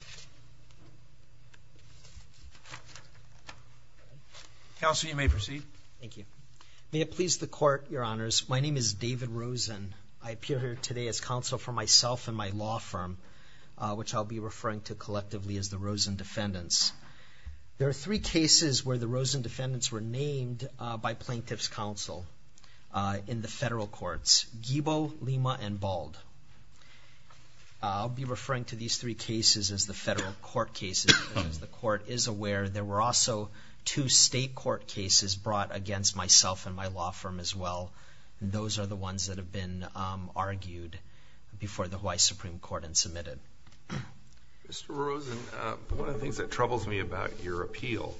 David Rosen, Jr. May it please the Court, Your Honors, my name is David Rosen. I appear here today as counsel for myself and my law firm, which I'll be referring to collectively as the Rosen Defendants. There are three cases where the Rosen Defendants were named by plaintiff's counsel in the federal courts, Guibo, Lima, and Bald. I'll be referring to these three cases as the federal court cases, because the Court is aware there were also two state court cases brought against myself and my law firm as well. Those are the ones that have been argued before the Hawaii Supreme Court and submitted. Mr. Rosen, one of the things that troubles me about your appeal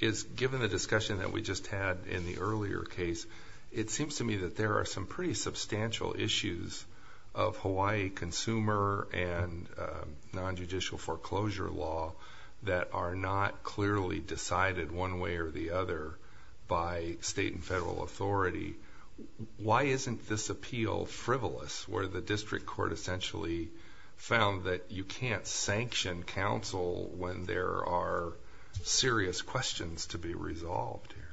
is, given the discussion that we just had in the earlier case, it seems to me that there are some pretty substantial issues of Hawaii consumer and nonjudicial foreclosure law that are not clearly decided one way or the other by state and federal authority. Why isn't this appeal frivolous, where the district court essentially found that you can't sanction counsel when there are serious questions to be resolved here?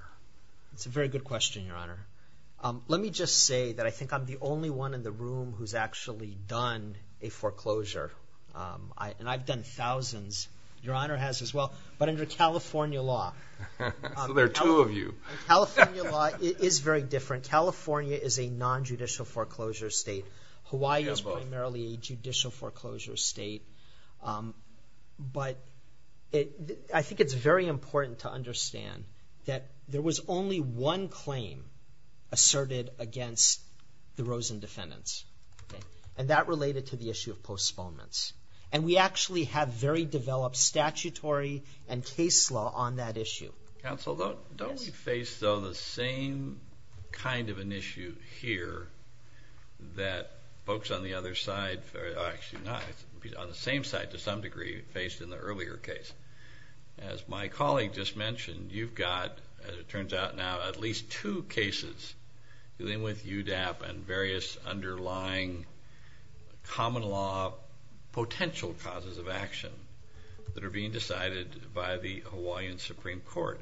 Let me just say that I think I'm the only one in the room who's actually done a foreclosure, and I've done thousands. Your Honor has as well, but under California law. So there are two of you. California law is very different. California is a nonjudicial foreclosure state. Hawaii is primarily a judicial foreclosure state, but I think it's very important to assert it against the Rosen defendants. And that related to the issue of postponements. And we actually have very developed statutory and case law on that issue. Counsel, don't we face, though, the same kind of an issue here that folks on the other side, actually not, on the same side to some degree faced in the earlier case? As my colleague just mentioned, you've got, as it turns out now, at least two cases dealing with UDAP and various underlying common law potential causes of action that are being decided by the Hawaiian Supreme Court.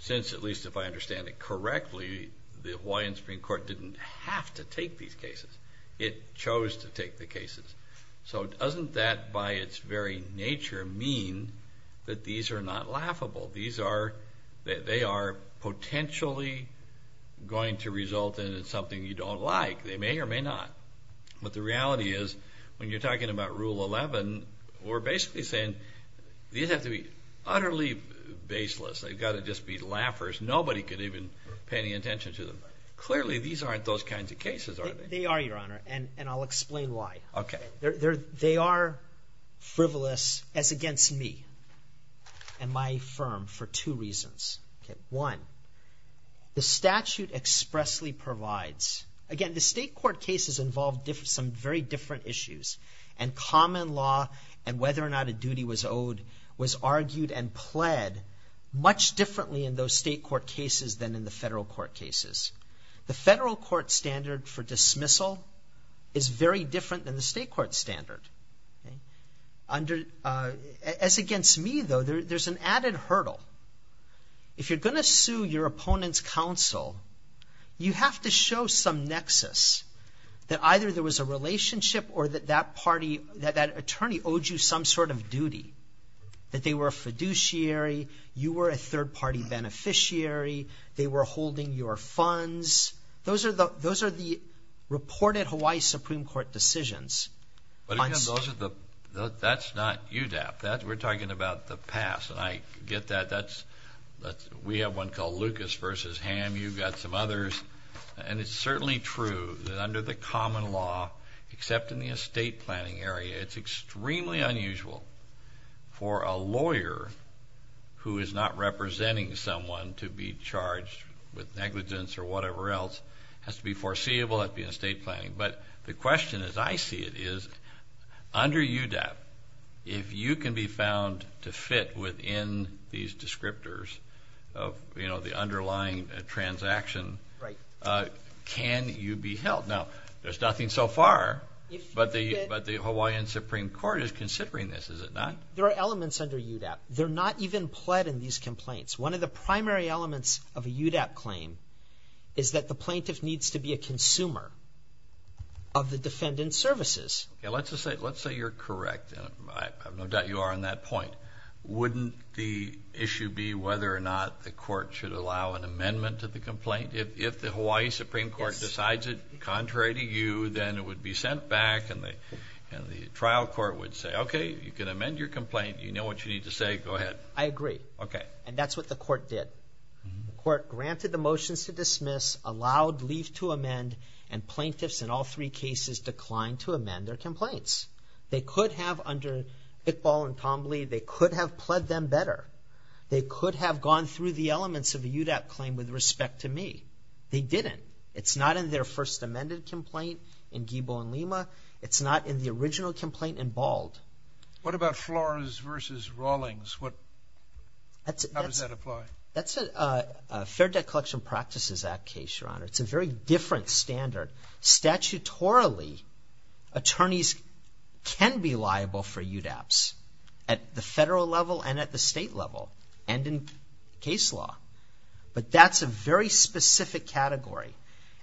Since at least if I understand it correctly, the Hawaiian Supreme Court didn't have to take these cases. It chose to take the cases. So doesn't that by its very nature mean that these are not laughable? These are, they are potentially going to result in something you don't like. They may or may not. But the reality is, when you're talking about Rule 11, we're basically saying these have to be utterly baseless. They've got to just be laughers. Nobody could even pay any attention to them. Clearly these aren't those kinds of cases, are they? They are, Your Honor. And I'll explain why. They are frivolous, as against me and my firm, for two reasons. One, the statute expressly provides, again, the state court cases involve some very different issues and common law and whether or not a duty was owed was argued and pled much differently in those state court cases than in the federal court cases. The federal court standard for dismissal is very different than the state court standard. As against me, though, there's an added hurdle. If you're going to sue your opponent's counsel, you have to show some nexus that either there was a relationship or that that party, that that attorney owed you some sort of duty, that they were a fiduciary, you were a third-party beneficiary, they were holding your funds. Those are the reported Hawaii Supreme Court decisions on state. But again, that's not UDAP. We're talking about the past, and I get that. We have one called Lucas v. Ham. You've got some others. And it's certainly true that under the common law, except in the estate planning area, it's extremely unusual for a lawyer who is not representing someone to be charged with negligence or whatever else. It has to be foreseeable, it has to be in estate planning. But the question, as I see it, is under UDAP, if you can be found to fit within these descriptors of the underlying transaction, can you be held? Now, there's nothing so far, but the Hawaiian Supreme Court is considering this, is it not? There are elements under UDAP. They're not even pled in these complaints. One of the primary elements of a UDAP claim is that the plaintiff needs to be a consumer of the defendant's services. Let's say you're correct, and I have no doubt you are on that point. Wouldn't the issue be whether or not the court should allow an amendment to the complaint if the Hawaii Supreme Court decides it contrary to you, then it would be sent back and the trial court would say, okay, you can amend your complaint. You know what you need to say. Go ahead. I agree. Okay. And that's what the court did. The court granted the motions to dismiss, allowed leaf to amend, and plaintiffs in all three cases declined to amend their complaints. They could have, under Iqbal and Tom Lee, they could have pled them better. They could have gone through the elements of a UDAP claim with respect to me. They didn't. It's not in their first amended complaint in Giebel and Lima. It's not in the original complaint in Bald. What about Flores versus Rawlings? What, how does that apply? That's a Fair Debt Collection Practices Act case, Your Honor. It's a very different standard. Statutorily, attorneys can be liable for UDAPs. At the federal level and at the state level and in case law. But that's a very specific category.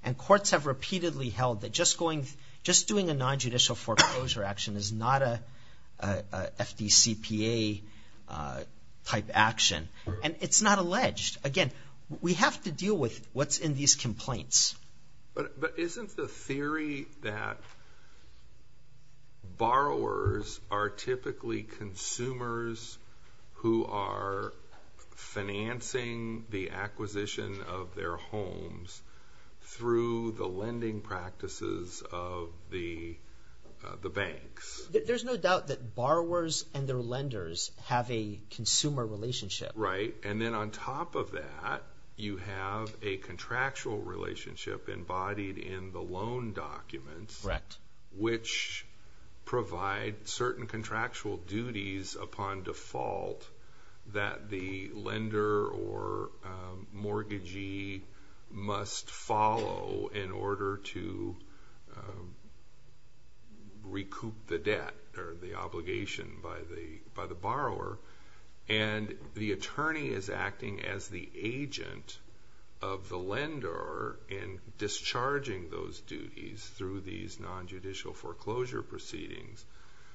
And courts have repeatedly held that just going, just doing a nonjudicial foreclosure action is not a FDCPA type action. And it's not alleged. Again, we have to deal with what's in these complaints. But isn't the theory that borrowers are typically consumers who are financing the acquisition of their homes through the lending practices of the banks? There's no doubt that borrowers and their lenders have a consumer relationship. Right. And then on top of that, you have a contractual relationship embodied in the loan documents. Correct. Which provide certain contractual duties upon default that the lender or mortgagee must follow in order to recoup the debt or the obligation by the borrower. And the attorney is acting as the agent of the lender in discharging those duties through these nonjudicial foreclosure proceedings.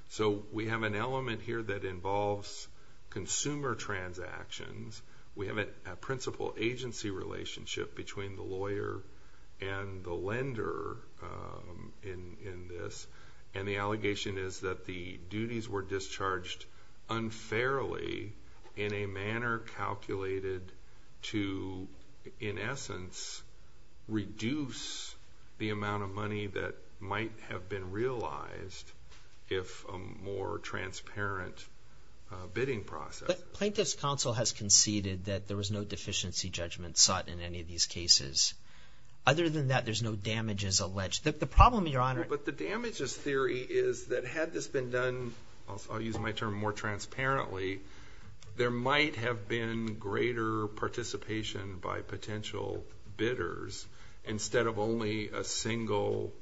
So we have an element here that involves consumer transactions. We have a principal agency relationship between the lawyer and the lender in this. And the allegation is that the duties were discharged unfairly in a manner calculated to, in essence, reduce the amount of money that might have been realized if a more transparent bidding process. But Plaintiff's Counsel has conceded that there was no deficiency judgment sought in any of these cases. Other than that, there's no damages alleged. The problem, Your Honor. But the damages theory is that had this been done, I'll use my term more transparently, there might have been greater participation by potential bidders instead of only a single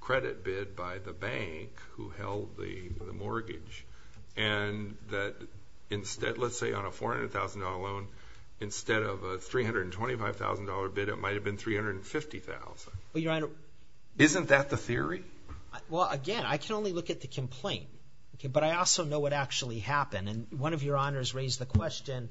credit bid by the bank who held the mortgage. And that instead, let's say on a $400,000 loan, instead of a $325,000 bid, it might have been $350,000. Well, Your Honor. Isn't that the theory? Well, again, I can only look at the complaint, but I also know what actually happened. And one of Your Honors raised the question,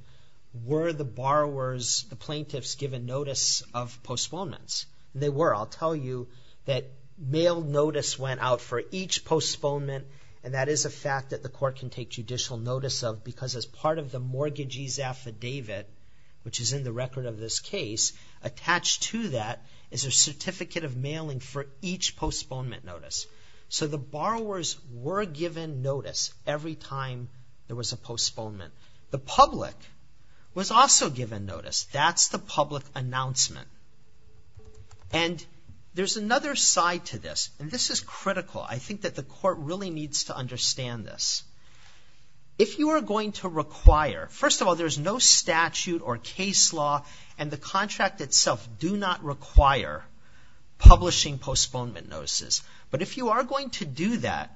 were the borrowers, the plaintiffs given notice of postponements? And they were. I'll tell you that mail notice went out for each postponement, and that is a fact that the court can take judicial notice of because as part of the mortgagee's affidavit, which is a certificate of mailing for each postponement notice. So the borrowers were given notice every time there was a postponement. The public was also given notice. That's the public announcement. And there's another side to this, and this is critical. I think that the court really needs to understand this. If you are going to require, first of all, there's no statute or case law, and the contract itself do not require publishing postponement notices. But if you are going to do that,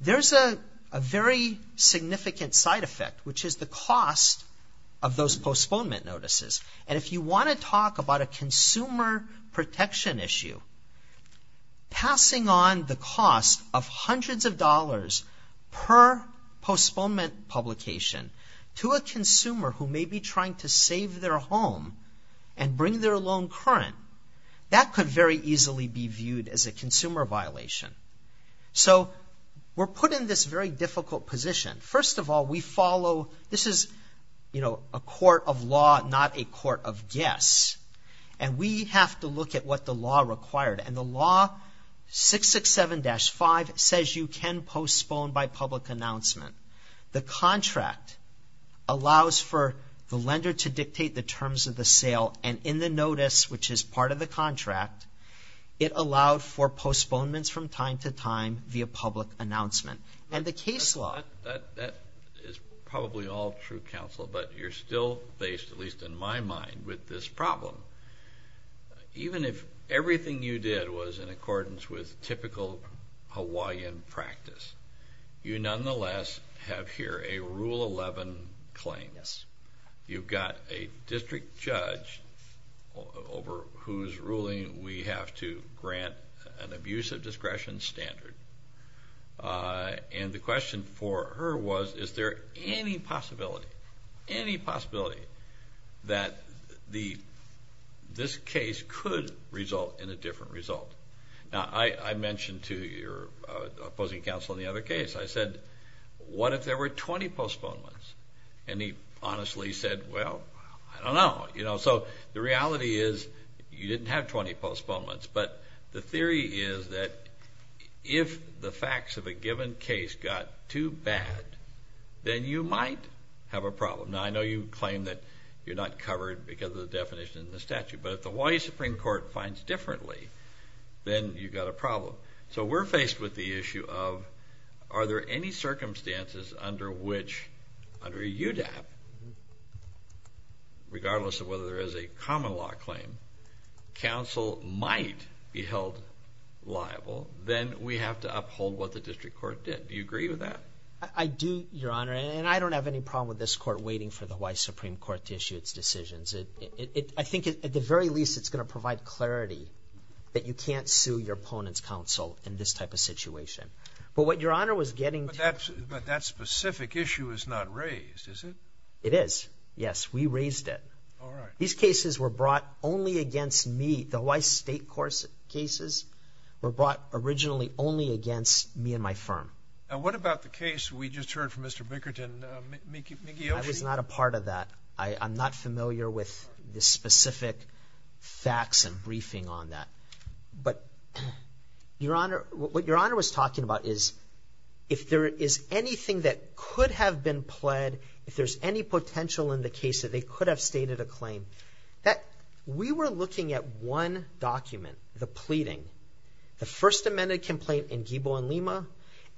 there's a very significant side effect, which is the cost of those postponement notices. And if you want to talk about a consumer protection issue, passing on the cost of hundreds of dollars per postponement publication to a consumer who may be trying to save their home and bring their loan current, that could very easily be viewed as a consumer violation. So we're put in this very difficult position. First of all, we follow, this is, you know, a court of law, not a court of guess. And we have to look at what the law required. And the law 667-5 says you can postpone by public announcement. The contract allows for the lender to dictate the terms of the sale, and in the notice, which is part of the contract, it allowed for postponements from time to time via public announcement. And the case law... That is probably all true, counsel, but you're still based, at least in my mind, with this problem. Even if everything you did was in accordance with typical Hawaiian practice, you nonetheless have here a Rule 11 claim. Yes. You've got a district judge over whose ruling we have to grant an abusive discretion standard. And the question for her was, is there any possibility, any possibility that this case could result in a different result? Now, I mentioned to your opposing counsel in the other case, I said, what if there were 20 postponements? And he honestly said, well, I don't know. So the reality is, you didn't have 20 postponements, but the theory is that if the facts of a given case got too bad, then you might have a problem. Now, I know you claim that you're not covered because of the definition in the statute, but if the Hawaii Supreme Court finds differently, then you've got a problem. So we're faced with the issue of, are there any circumstances under which, under UDAP, regardless of whether there is a common law claim, counsel might be held liable, then we have to uphold what the district court did. Do you agree with that? I do, Your Honor. And I don't have any problem with this court waiting for the Hawaii Supreme Court to issue its decisions. I think at the very least, it's going to provide clarity that you can't sue your opponent's counsel in this type of situation. But what Your Honor was getting to— But that specific issue is not raised, is it? It is. Yes. We raised it. All right. These cases were brought only against me. The Hawaii State court cases were brought originally only against me and my firm. Now, what about the case we just heard from Mr. Bickerton, Miki Oshii? I was not a part of that. I'm not familiar with the specific facts and briefing on that. But Your Honor, what Your Honor was talking about is, if there is anything that could have been pled, if there's any potential in the case that they could have stated a claim, that we were looking at one document, the pleading, the First Amendment complaint in Ghibo and Lima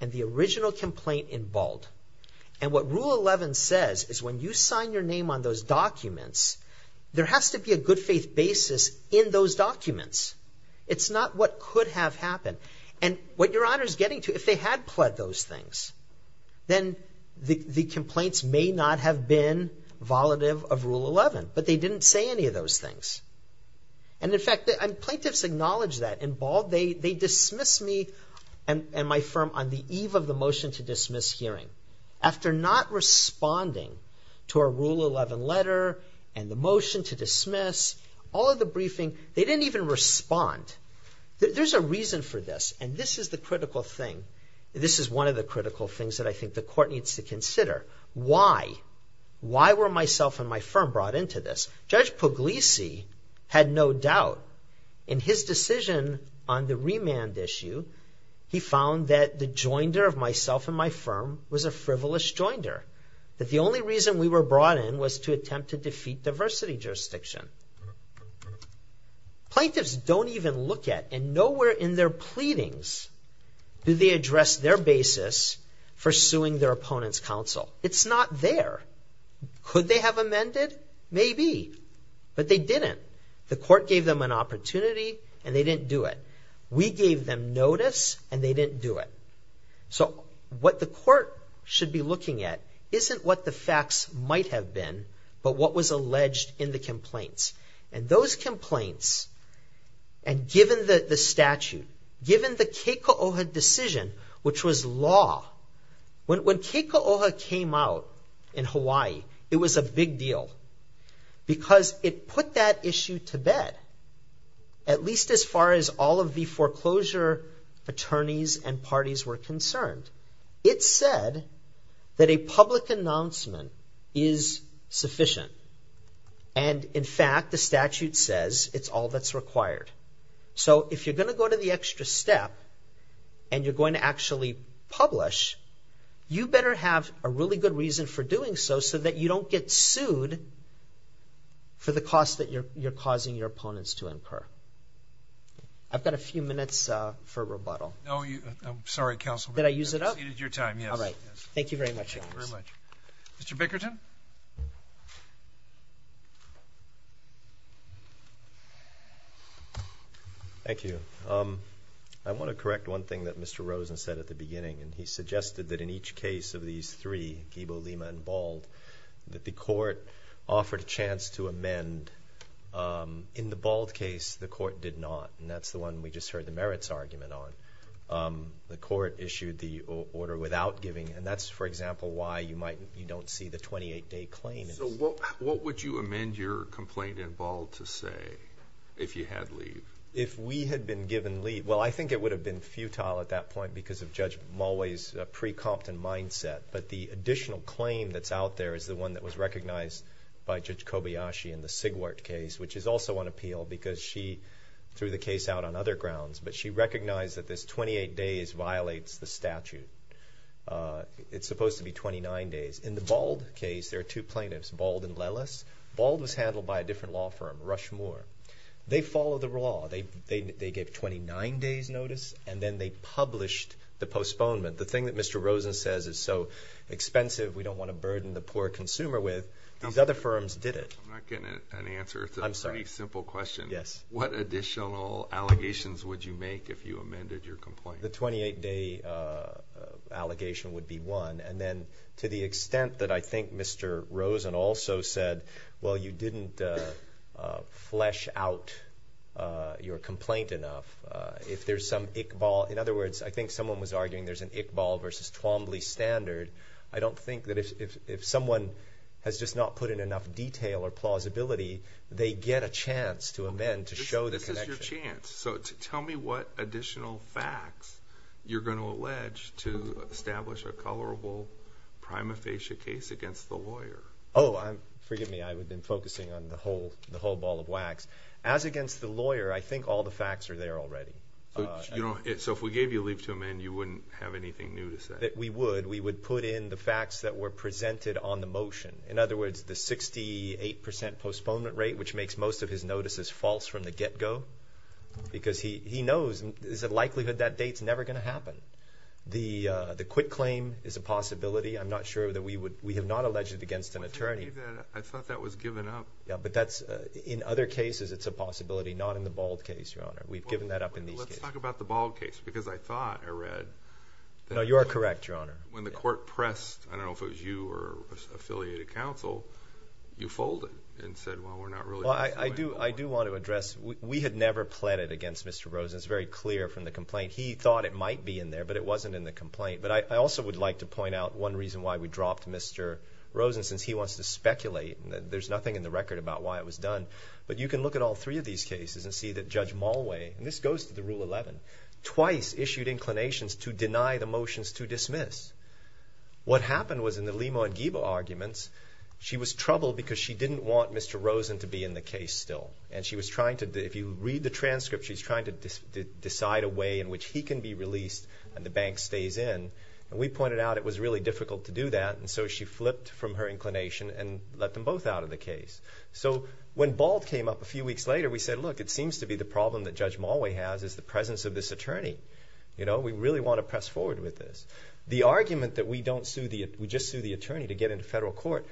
and the original complaint in Bald. And what Rule 11 says is when you sign your name on those documents, there has to be a good faith basis in those documents. It's not what could have happened. Right? And what Your Honor is getting to, if they had pled those things, then the complaints may not have been volative of Rule 11. But they didn't say any of those things. And in fact, plaintiffs acknowledge that. In Bald, they dismissed me and my firm on the eve of the motion to dismiss hearing. After not responding to our Rule 11 letter and the motion to dismiss, all of the briefing, they didn't even respond. There's a reason for this, and this is the critical thing. This is one of the critical things that I think the court needs to consider. Why? Why were myself and my firm brought into this? Judge Puglisi had no doubt. In his decision on the remand issue, he found that the joinder of myself and my firm was a frivolous joinder, that the only reason we were brought in was to attempt to defeat diversity jurisdiction. Plaintiffs don't even look at, and nowhere in their pleadings do they address their basis for suing their opponent's counsel. It's not there. Could they have amended? Maybe, but they didn't. The court gave them an opportunity, and they didn't do it. We gave them notice, and they didn't do it. So what the court should be looking at isn't what the facts might have been, but what was alleged in the complaint. And those complaints, and given the statute, given the Keiko'oha decision, which was law. When Keiko'oha came out in Hawaii, it was a big deal because it put that issue to bed, at least as far as all of the foreclosure attorneys and parties were concerned. It said that a public announcement is sufficient, and in fact, the statute says it's all that's required. So if you're going to go to the extra step, and you're going to actually publish, you better have a really good reason for doing so, so that you don't get sued for the cost that you're causing your opponents to incur. I've got a few minutes for rebuttal. I'm sorry, Counsel. Did I use it up? You exceeded your time, yes. All right. Thank you very much, Your Honor. Thank you very much. Mr. Bickerton? Thank you. I want to correct one thing that Mr. Rosen said at the beginning, and he suggested that in each case of these three, Ghibo, Lima, and Bald, that the court offered a chance to amend. In the Bald case, the court did not, and that's the one we just heard the merits argument on. The court issued the order without giving, and that's, for example, why you don't see the 28-day claim. What would you amend your complaint in Bald to say if you had leave? If we had been given leave, well, I think it would have been futile at that point because of Judge Mulway's precompton mindset, but the additional claim that's out there is the one that was recognized by Judge Kobayashi in the Sigwart case, which is also on appeal because she threw the case out on other grounds, but she recognized that this 28 days violates the statute. It's supposed to be 29 days. In the Bald case, there are two plaintiffs, Bald and Lellis. Bald was handled by a different law firm, Rushmore. They followed the law. They gave 29 days notice, and then they published the postponement. The thing that Mr. Rosen says is so expensive, we don't want to burden the poor consumer with. These other firms did it. I'm not getting an answer. I'm sorry. It's a very simple question. Yes. What additional allegations would you make if you amended your complaint? The 28 day allegation would be one, and then to the extent that I think Mr. Rosen also said, well, you didn't flesh out your complaint enough. If there's some Iqbal, in other words, I think someone was arguing there's an Iqbal versus Twombly standard, I don't think that if someone has just not put in enough detail or plausibility, they get a chance to amend to show the connection. This is your chance. So, tell me what additional facts you're going to allege to establish a colorable prima facie case against the lawyer. Oh, forgive me. I've been focusing on the whole ball of wax. As against the lawyer, I think all the facts are there already. So if we gave you leave to amend, you wouldn't have anything new to say? We would. We would put in the facts that were presented on the motion. In other words, the 68% postponement rate, which makes most of his notices false from the get go, because he knows there's a likelihood that date's never going to happen. The quit claim is a possibility. I'm not sure that we would... we have not alleged it against an attorney. I thought that was given up. Yeah, but that's... in other cases, it's a possibility, not in the bald case, Your Honor. We've given that up in these cases. Let's talk about the bald case, because I thought I read... No, you are correct, Your Honor. When the court pressed, I don't know if it was you or affiliated counsel, you folded and said, well, we're not really... I do want to address, we had never pleaded against Mr. Rosen. It's very clear from the complaint. He thought it might be in there, but it wasn't in the complaint. But I also would like to point out one reason why we dropped Mr. Rosen, since he wants to speculate and there's nothing in the record about why it was done. But you can look at all three of these cases and see that Judge Mulway, and this goes to Rule 11, twice issued inclinations to deny the motions to dismiss. What happened was in the Lima and Giba arguments, she was troubled because she didn't want Mr. Rosen to be in the case still. And she was trying to... if you read the transcript, she's trying to decide a way in which he can be released and the bank stays in. We pointed out it was really difficult to do that, and so she flipped from her inclination and let them both out of the case. So when bald came up a few weeks later, we said, look, it seems to be the problem that the presence of this attorney, you know, we really want to press forward with this. The argument that we don't sue the... we just sue the attorney to get into federal court.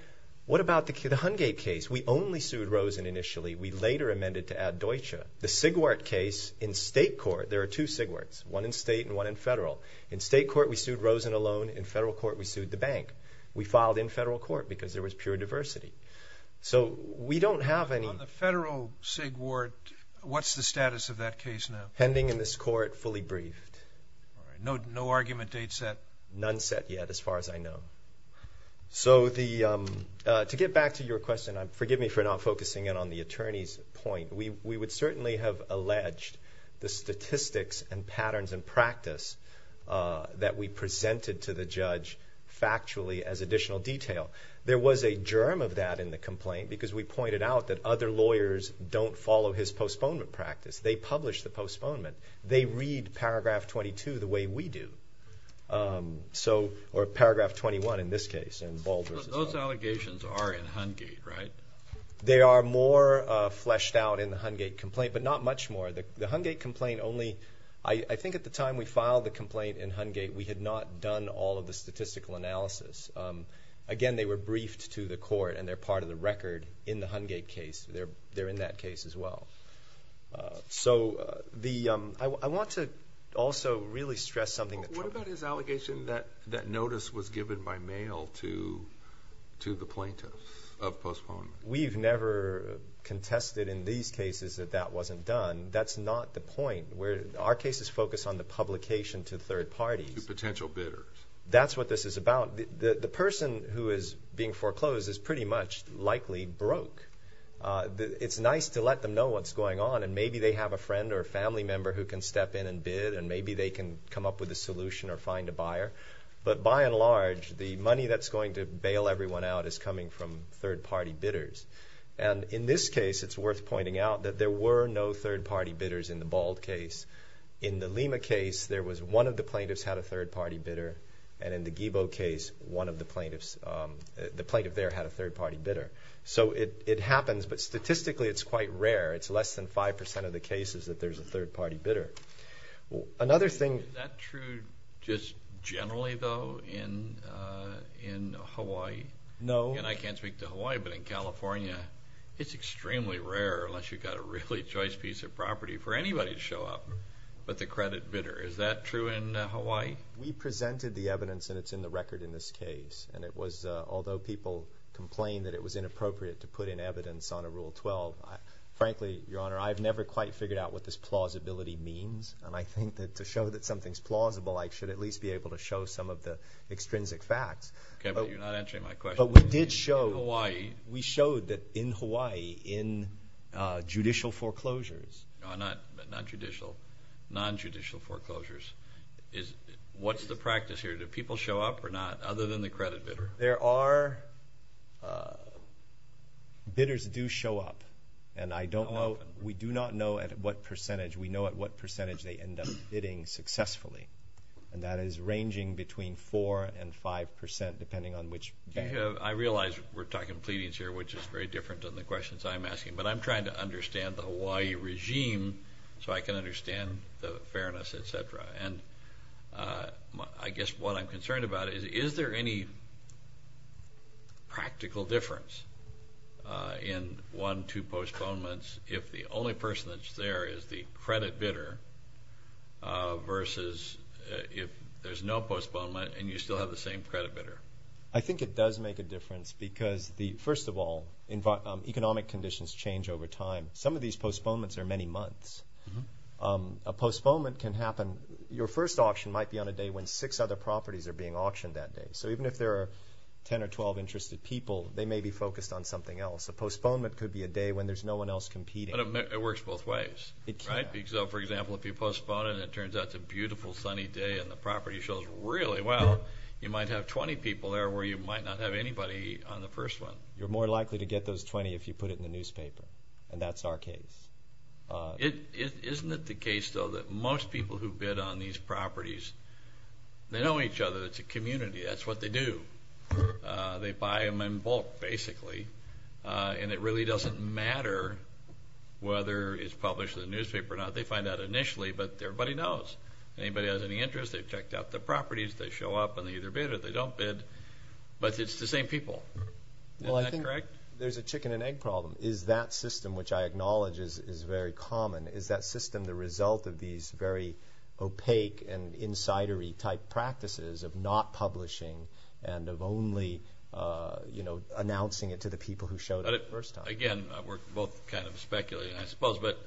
What about the Hungate case? We only sued Rosen initially. We later amended to add Deutsche. The Sigwart case in state court, there are two Sigwarts, one in state and one in federal. In state court, we sued Rosen alone. In federal court, we sued the bank. We filed in federal court because there was pure diversity. So we don't have any... On the federal Sigwart, what's the status of that case now? Hanging in this court, fully briefed. No argument date set? None set yet, as far as I know. So to get back to your question, forgive me for not focusing in on the attorney's point. We would certainly have alleged the statistics and patterns and practice that we presented to the judge factually as additional detail. There was a germ of that in the complaint because we pointed out that other lawyers don't follow his postponement practice. They publish the postponement. They read paragraph 22 the way we do, or paragraph 21 in this case, in Bald v. Bald. Those allegations are in Hungate, right? They are more fleshed out in the Hungate complaint, but not much more. The Hungate complaint only... I think at the time we filed the complaint in Hungate, we had not done all of the statistical analysis. Again, they were briefed to the court and they're part of the record in the Hungate case. They're in that case as well. I want to also really stress something... What about his allegation that that notice was given by mail to the plaintiffs of postponement? We've never contested in these cases that that wasn't done. That's not the point. Our cases focus on the publication to third parties. To potential bidders. That's what this is about. The person who is being foreclosed is pretty much likely broke. It's nice to let them know what's going on, and maybe they have a friend or a family member who can step in and bid, and maybe they can come up with a solution or find a buyer. But by and large, the money that's going to bail everyone out is coming from third-party bidders. In this case, it's worth pointing out that there were no third-party bidders in the Bald case. In the Lima case, one of the plaintiffs had a third-party bidder. In the Guibo case, one of the plaintiffs... the plaintiff there had a third-party bidder. It happens, but statistically, it's quite rare. It's less than 5% of the cases that there's a third-party bidder. Another thing... Is that true just generally, though, in Hawaii? No. Again, I can't speak to Hawaii, but in California, it's extremely rare, unless you've got a really choice piece of property, for anybody to show up but the credit bidder. Is that true in Hawaii? We presented the evidence, and it's in the record in this case, and it was... although people complained that it was inappropriate to put in evidence on a Rule 12, frankly, Your Honor, I've never quite figured out what this plausibility means, and I think that to show that something's plausible, I should at least be able to show some of the extrinsic facts. Okay, but you're not answering my question. But we did show... In Hawaii... We showed that in Hawaii, in judicial foreclosures... No, not judicial, non-judicial foreclosures. What's the practice here? Do people show up or not, other than the credit bidder? There are... bidders do show up, and I don't know... We do not know at what percentage. We know at what percentage they end up bidding successfully, and that is ranging between 4 and 5 percent, depending on which... I realize we're talking pleadings here, which is very different than the questions I'm asking, but I'm trying to understand the Hawaii regime, so I can understand the fairness, et cetera. And I guess what I'm concerned about is, is there any practical difference in one, two postponements if the only person that's there is the credit bidder, versus if there's no postponement and you still have the same credit bidder? I think it does make a difference, because the... first of all, economic conditions change over time. Some of these postponements are many months. A postponement can happen... your first auction might be on a day when six other properties are being auctioned that day. So even if there are 10 or 12 interested people, they may be focused on something else. A postponement could be a day when there's no one else competing. But it works both ways, right? It can. So, for example, if you postpone it and it turns out it's a beautiful, sunny day and the property shows really well, you might have 20 people there where you might not have anybody on the first one. You're more likely to get those 20 if you put it in the newspaper, and that's our case. Isn't it the case, though, that most people who bid on these properties, they know each other. It's a community. That's what they do. They buy them in bulk, basically, and it really doesn't matter whether it's published in the newspaper or not. They find out initially, but everybody knows. Anybody has any interest, they've checked out the properties, they show up and they either bid or they don't bid, but it's the same people. Is that correct? Well, I think there's a chicken and egg problem. Is that system, which I acknowledge is very common, is that system the result of these very opaque and insidery-type practices of not publishing and of only announcing it to the people who show it the first time? Again, we're both kind of speculating, I suppose, but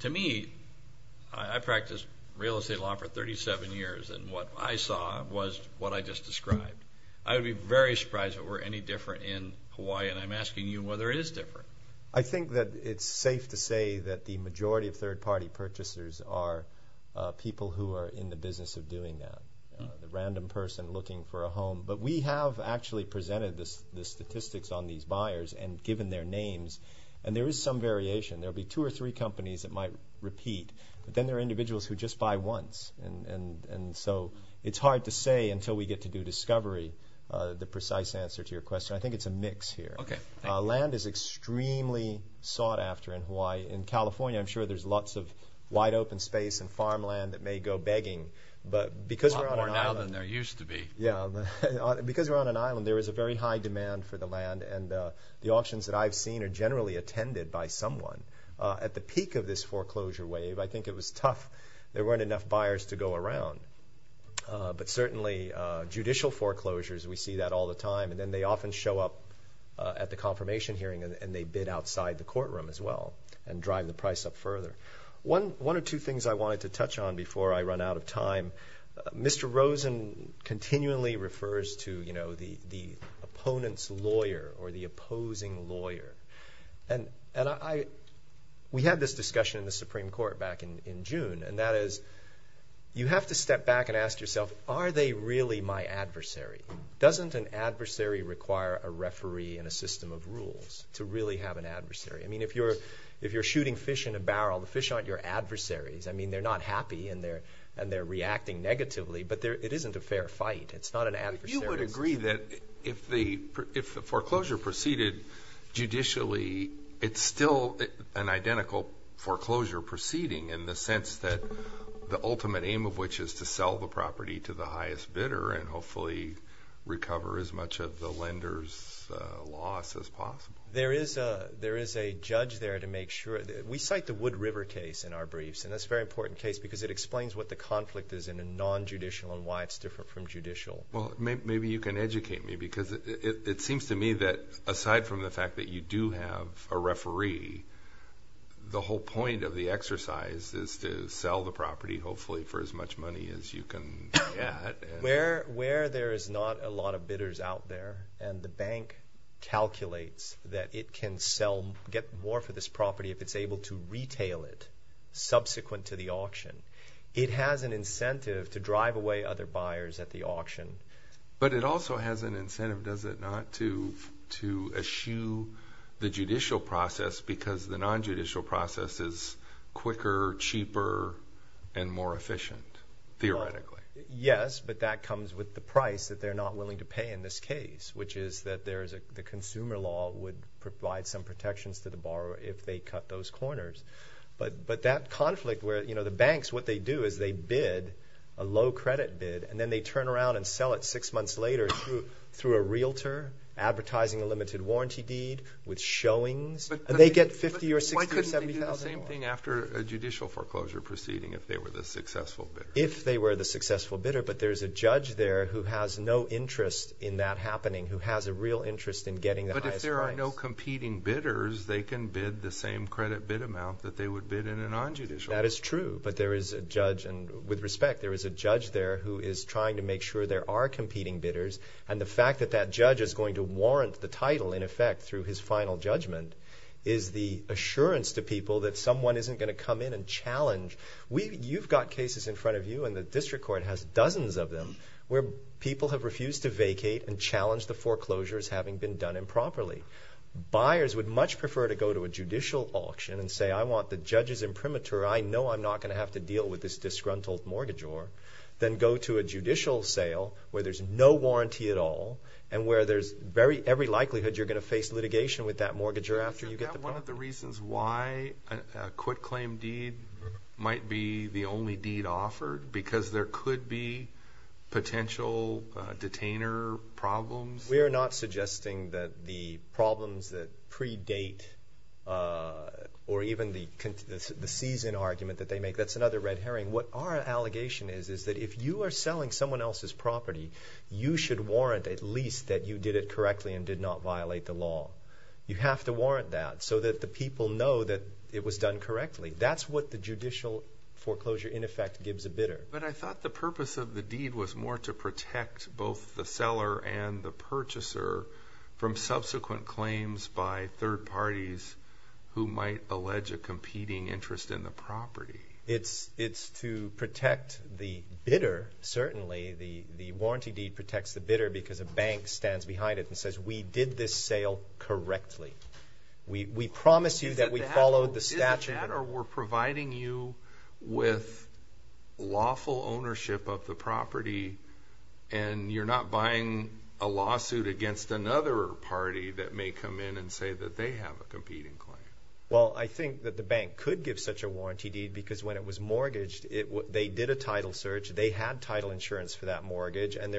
to me, I practiced real estate law for 37 years, and what I saw was what I just described. I would be very surprised if it were any different in Hawaii, and I'm asking you whether it is different. I think that it's safe to say that the majority of third-party purchasers are people who are in the business of doing that, a random person looking for a home. But we have actually presented the statistics on these buyers and given their names, and there is some variation. There will be two or three companies that might repeat, but then there are individuals who just buy once, and so it's hard to say until we get to do discovery the precise answer to your question. I think it's a mix here. Okay. Thank you. Land is extremely sought after in Hawaii. In California, I'm sure there's lots of wide-open space and farmland that may go begging, but because we're on an island— A lot more now than there used to be. Yeah. Because we're on an island, there is a very high demand for the land, and the auctions that I've seen are generally attended by someone. At the peak of this foreclosure wave, I think it was tough. There weren't enough buyers to go around, but certainly judicial foreclosures, we see that all the time, and then they often show up at the confirmation hearing, and they bid outside the courtroom as well and drive the price up further. One or two things I wanted to touch on before I run out of time. Mr. Rosen continually refers to the opponent's lawyer or the opposing lawyer. We had this discussion in the Supreme Court back in June, and that is you have to step back and ask yourself, are they really my adversary? Doesn't an adversary require a referee and a system of rules to really have an adversary? If you're shooting fish in a barrel, the fish aren't your adversaries. They're not happy, and they're reacting negatively, but it isn't a fair fight. It's not an adversary. You would agree that if the foreclosure proceeded judicially, it's still an identical foreclosure proceeding in the sense that the ultimate aim of which is to sell the property to the highest bidder and hopefully recover as much of the lender's loss as possible. There is a judge there to make sure. We cite the Wood River case in our briefs, and it's a very important case because it explains what the conflict is in a non-judicial and why it's different from judicial. Maybe you can educate me because it seems to me that aside from the fact that you do have a referee, the whole point of the exercise is to sell the property hopefully for as much money as you can get. Where there is not a lot of bidders out there and the bank calculates that it can get more for this property if it's able to retail it subsequent to the auction. It has an incentive to drive away other buyers at the auction. But it also has an incentive, does it not, to eschew the judicial process because the non-judicial process is quicker, cheaper, and more efficient theoretically? Yes, but that comes with the price that they're not willing to pay in this case, which is that the consumer law would provide some protections to the borrower if they cut those corners. But that conflict where the banks, what they do is they bid a low credit bid, and then they turn around and sell it six months later through a realtor advertising a limited warranty deed with showings, and they get $50,000 or $60,000 or $70,000 more. Why couldn't they do the same thing after a judicial foreclosure proceeding if they were the successful bidder? If they were the successful bidder, but there's a judge there who has no interest in that real interest in getting the highest price. But if there are no competing bidders, they can bid the same credit bid amount that they would bid in a non-judicial. That is true, but there is a judge, and with respect, there is a judge there who is trying to make sure there are competing bidders. And the fact that that judge is going to warrant the title, in effect, through his final judgment is the assurance to people that someone isn't going to come in and challenge. You've got cases in front of you, and the district court has dozens of them, where people have refused to vacate and challenged the foreclosures having been done improperly. Buyers would much prefer to go to a judicial auction and say, I want the judges imprimatur, I know I'm not going to have to deal with this disgruntled mortgagor, than go to a judicial sale where there's no warranty at all, and where there's very, every likelihood you're going to face litigation with that mortgagor after you get the bond. Isn't that one of the reasons why a quitclaim deed might be the only deed offered? Because there could be potential detainer problems? We're not suggesting that the problems that predate, or even the season argument that they make, that's another red herring. What our allegation is, is that if you are selling someone else's property, you should warrant at least that you did it correctly and did not violate the law. You have to warrant that so that the people know that it was done correctly. That's what the judicial foreclosure, in effect, gives a bidder. But I thought the purpose of the deed was more to protect both the seller and the purchaser from subsequent claims by third parties who might allege a competing interest in the property. It's to protect the bidder, certainly. The warranty deed protects the bidder because a bank stands behind it and says, we did this sale correctly. We promise you that we followed the statute. Is it that, or we're providing you with lawful ownership of the property and you're not buying a lawsuit against another party that may come in and say that they have a competing claim? Well, I think that the bank could give such a warranty deed because when it was mortgaged, they did a title search. They had title insurance for that mortgage, and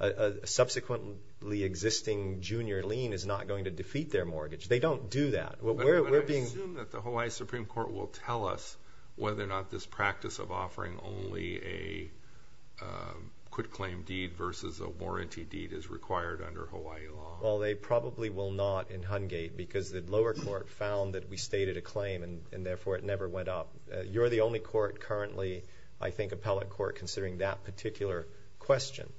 a subsequently existing junior lien is not going to defeat their mortgage. They don't do that. But I assume that the Hawaii Supreme Court will tell us whether or not this practice of offering only a quitclaim deed versus a warranty deed is required under Hawaii law. Well, they probably will not in Hungate because the lower court found that we stated a claim and therefore it never went up. You're the only court currently, I think, appellate court considering that particular question.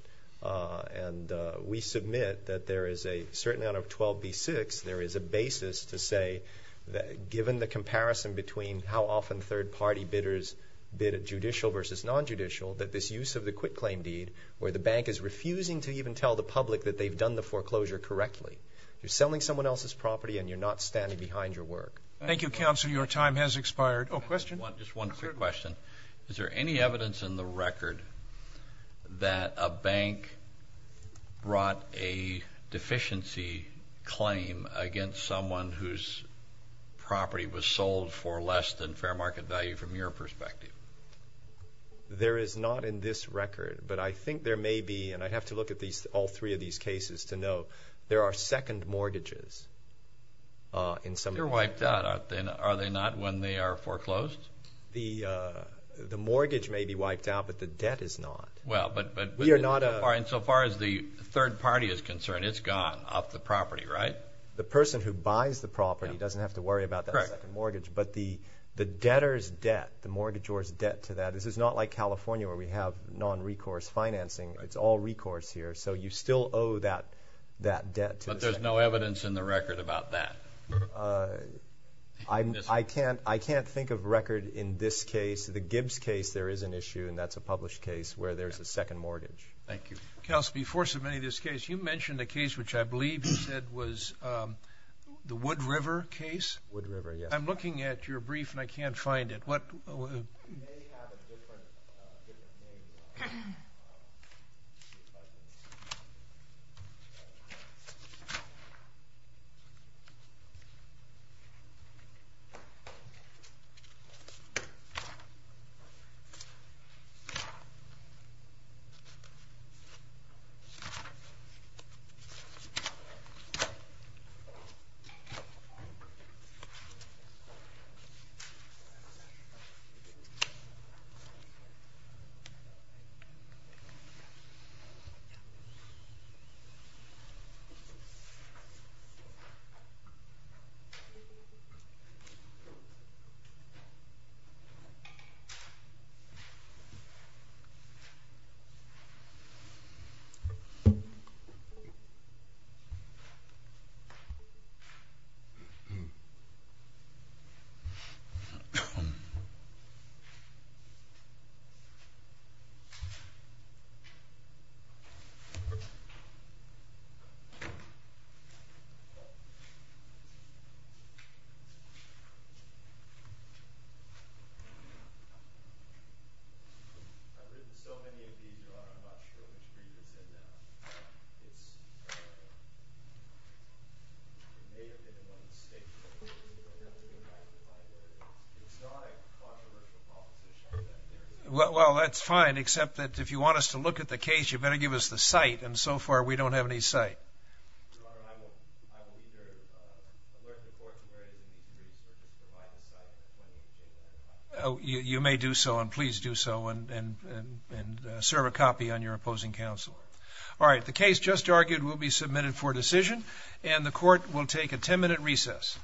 And we submit that there is a, certainly out of 12b-6, there is a basis to say that given the comparison between how often third-party bidders bid at judicial versus non-judicial, that this use of the quitclaim deed where the bank is refusing to even tell the public that they've done the foreclosure correctly, you're selling someone else's property and you're not standing behind your work. Thank you, counsel. Your time has expired. Oh, question? Just one quick question. Is there any evidence in the record that a bank brought a deficiency claim against someone whose property was sold for less than fair market value from your perspective? There is not in this record. But I think there may be, and I'd have to look at all three of these cases to know, there are second mortgages in some cases. They're wiped out. Are they not when they are foreclosed? The mortgage may be wiped out, but the debt is not. Well, but we are not a... And so far as the third party is concerned, it's gone off the property, right? The person who buys the property doesn't have to worry about that second mortgage, but the debtor's debt, the mortgagor's debt to that, this is not like California where we have non-recourse financing. It's all recourse here. So you still owe that debt to the second... But there's no evidence in the record about that? I can't think of record in this case. The Gibbs case, there is an issue, and that's a published case where there's a second mortgage. Thank you. Kelsey, before submitting this case, you mentioned a case which I believe you said was the Wood River case. Wood River, yes. I'm looking at your brief, and I can't find it. What... You may have a different... I believe so many of you are, I'm not sure if you agree with me or not, but it's not a controversial proposition. Well, that's fine, except that if you want us to look at the case, you better give us the site, and so far we don't have any site. Your Honor, I will be very... We're at the fortune of very few people who can find the site. You may do so, and please do so, and serve a copy on your opposing counsel. All right, the case just argued will be submitted for decision, and the court will take a 10-minute recess.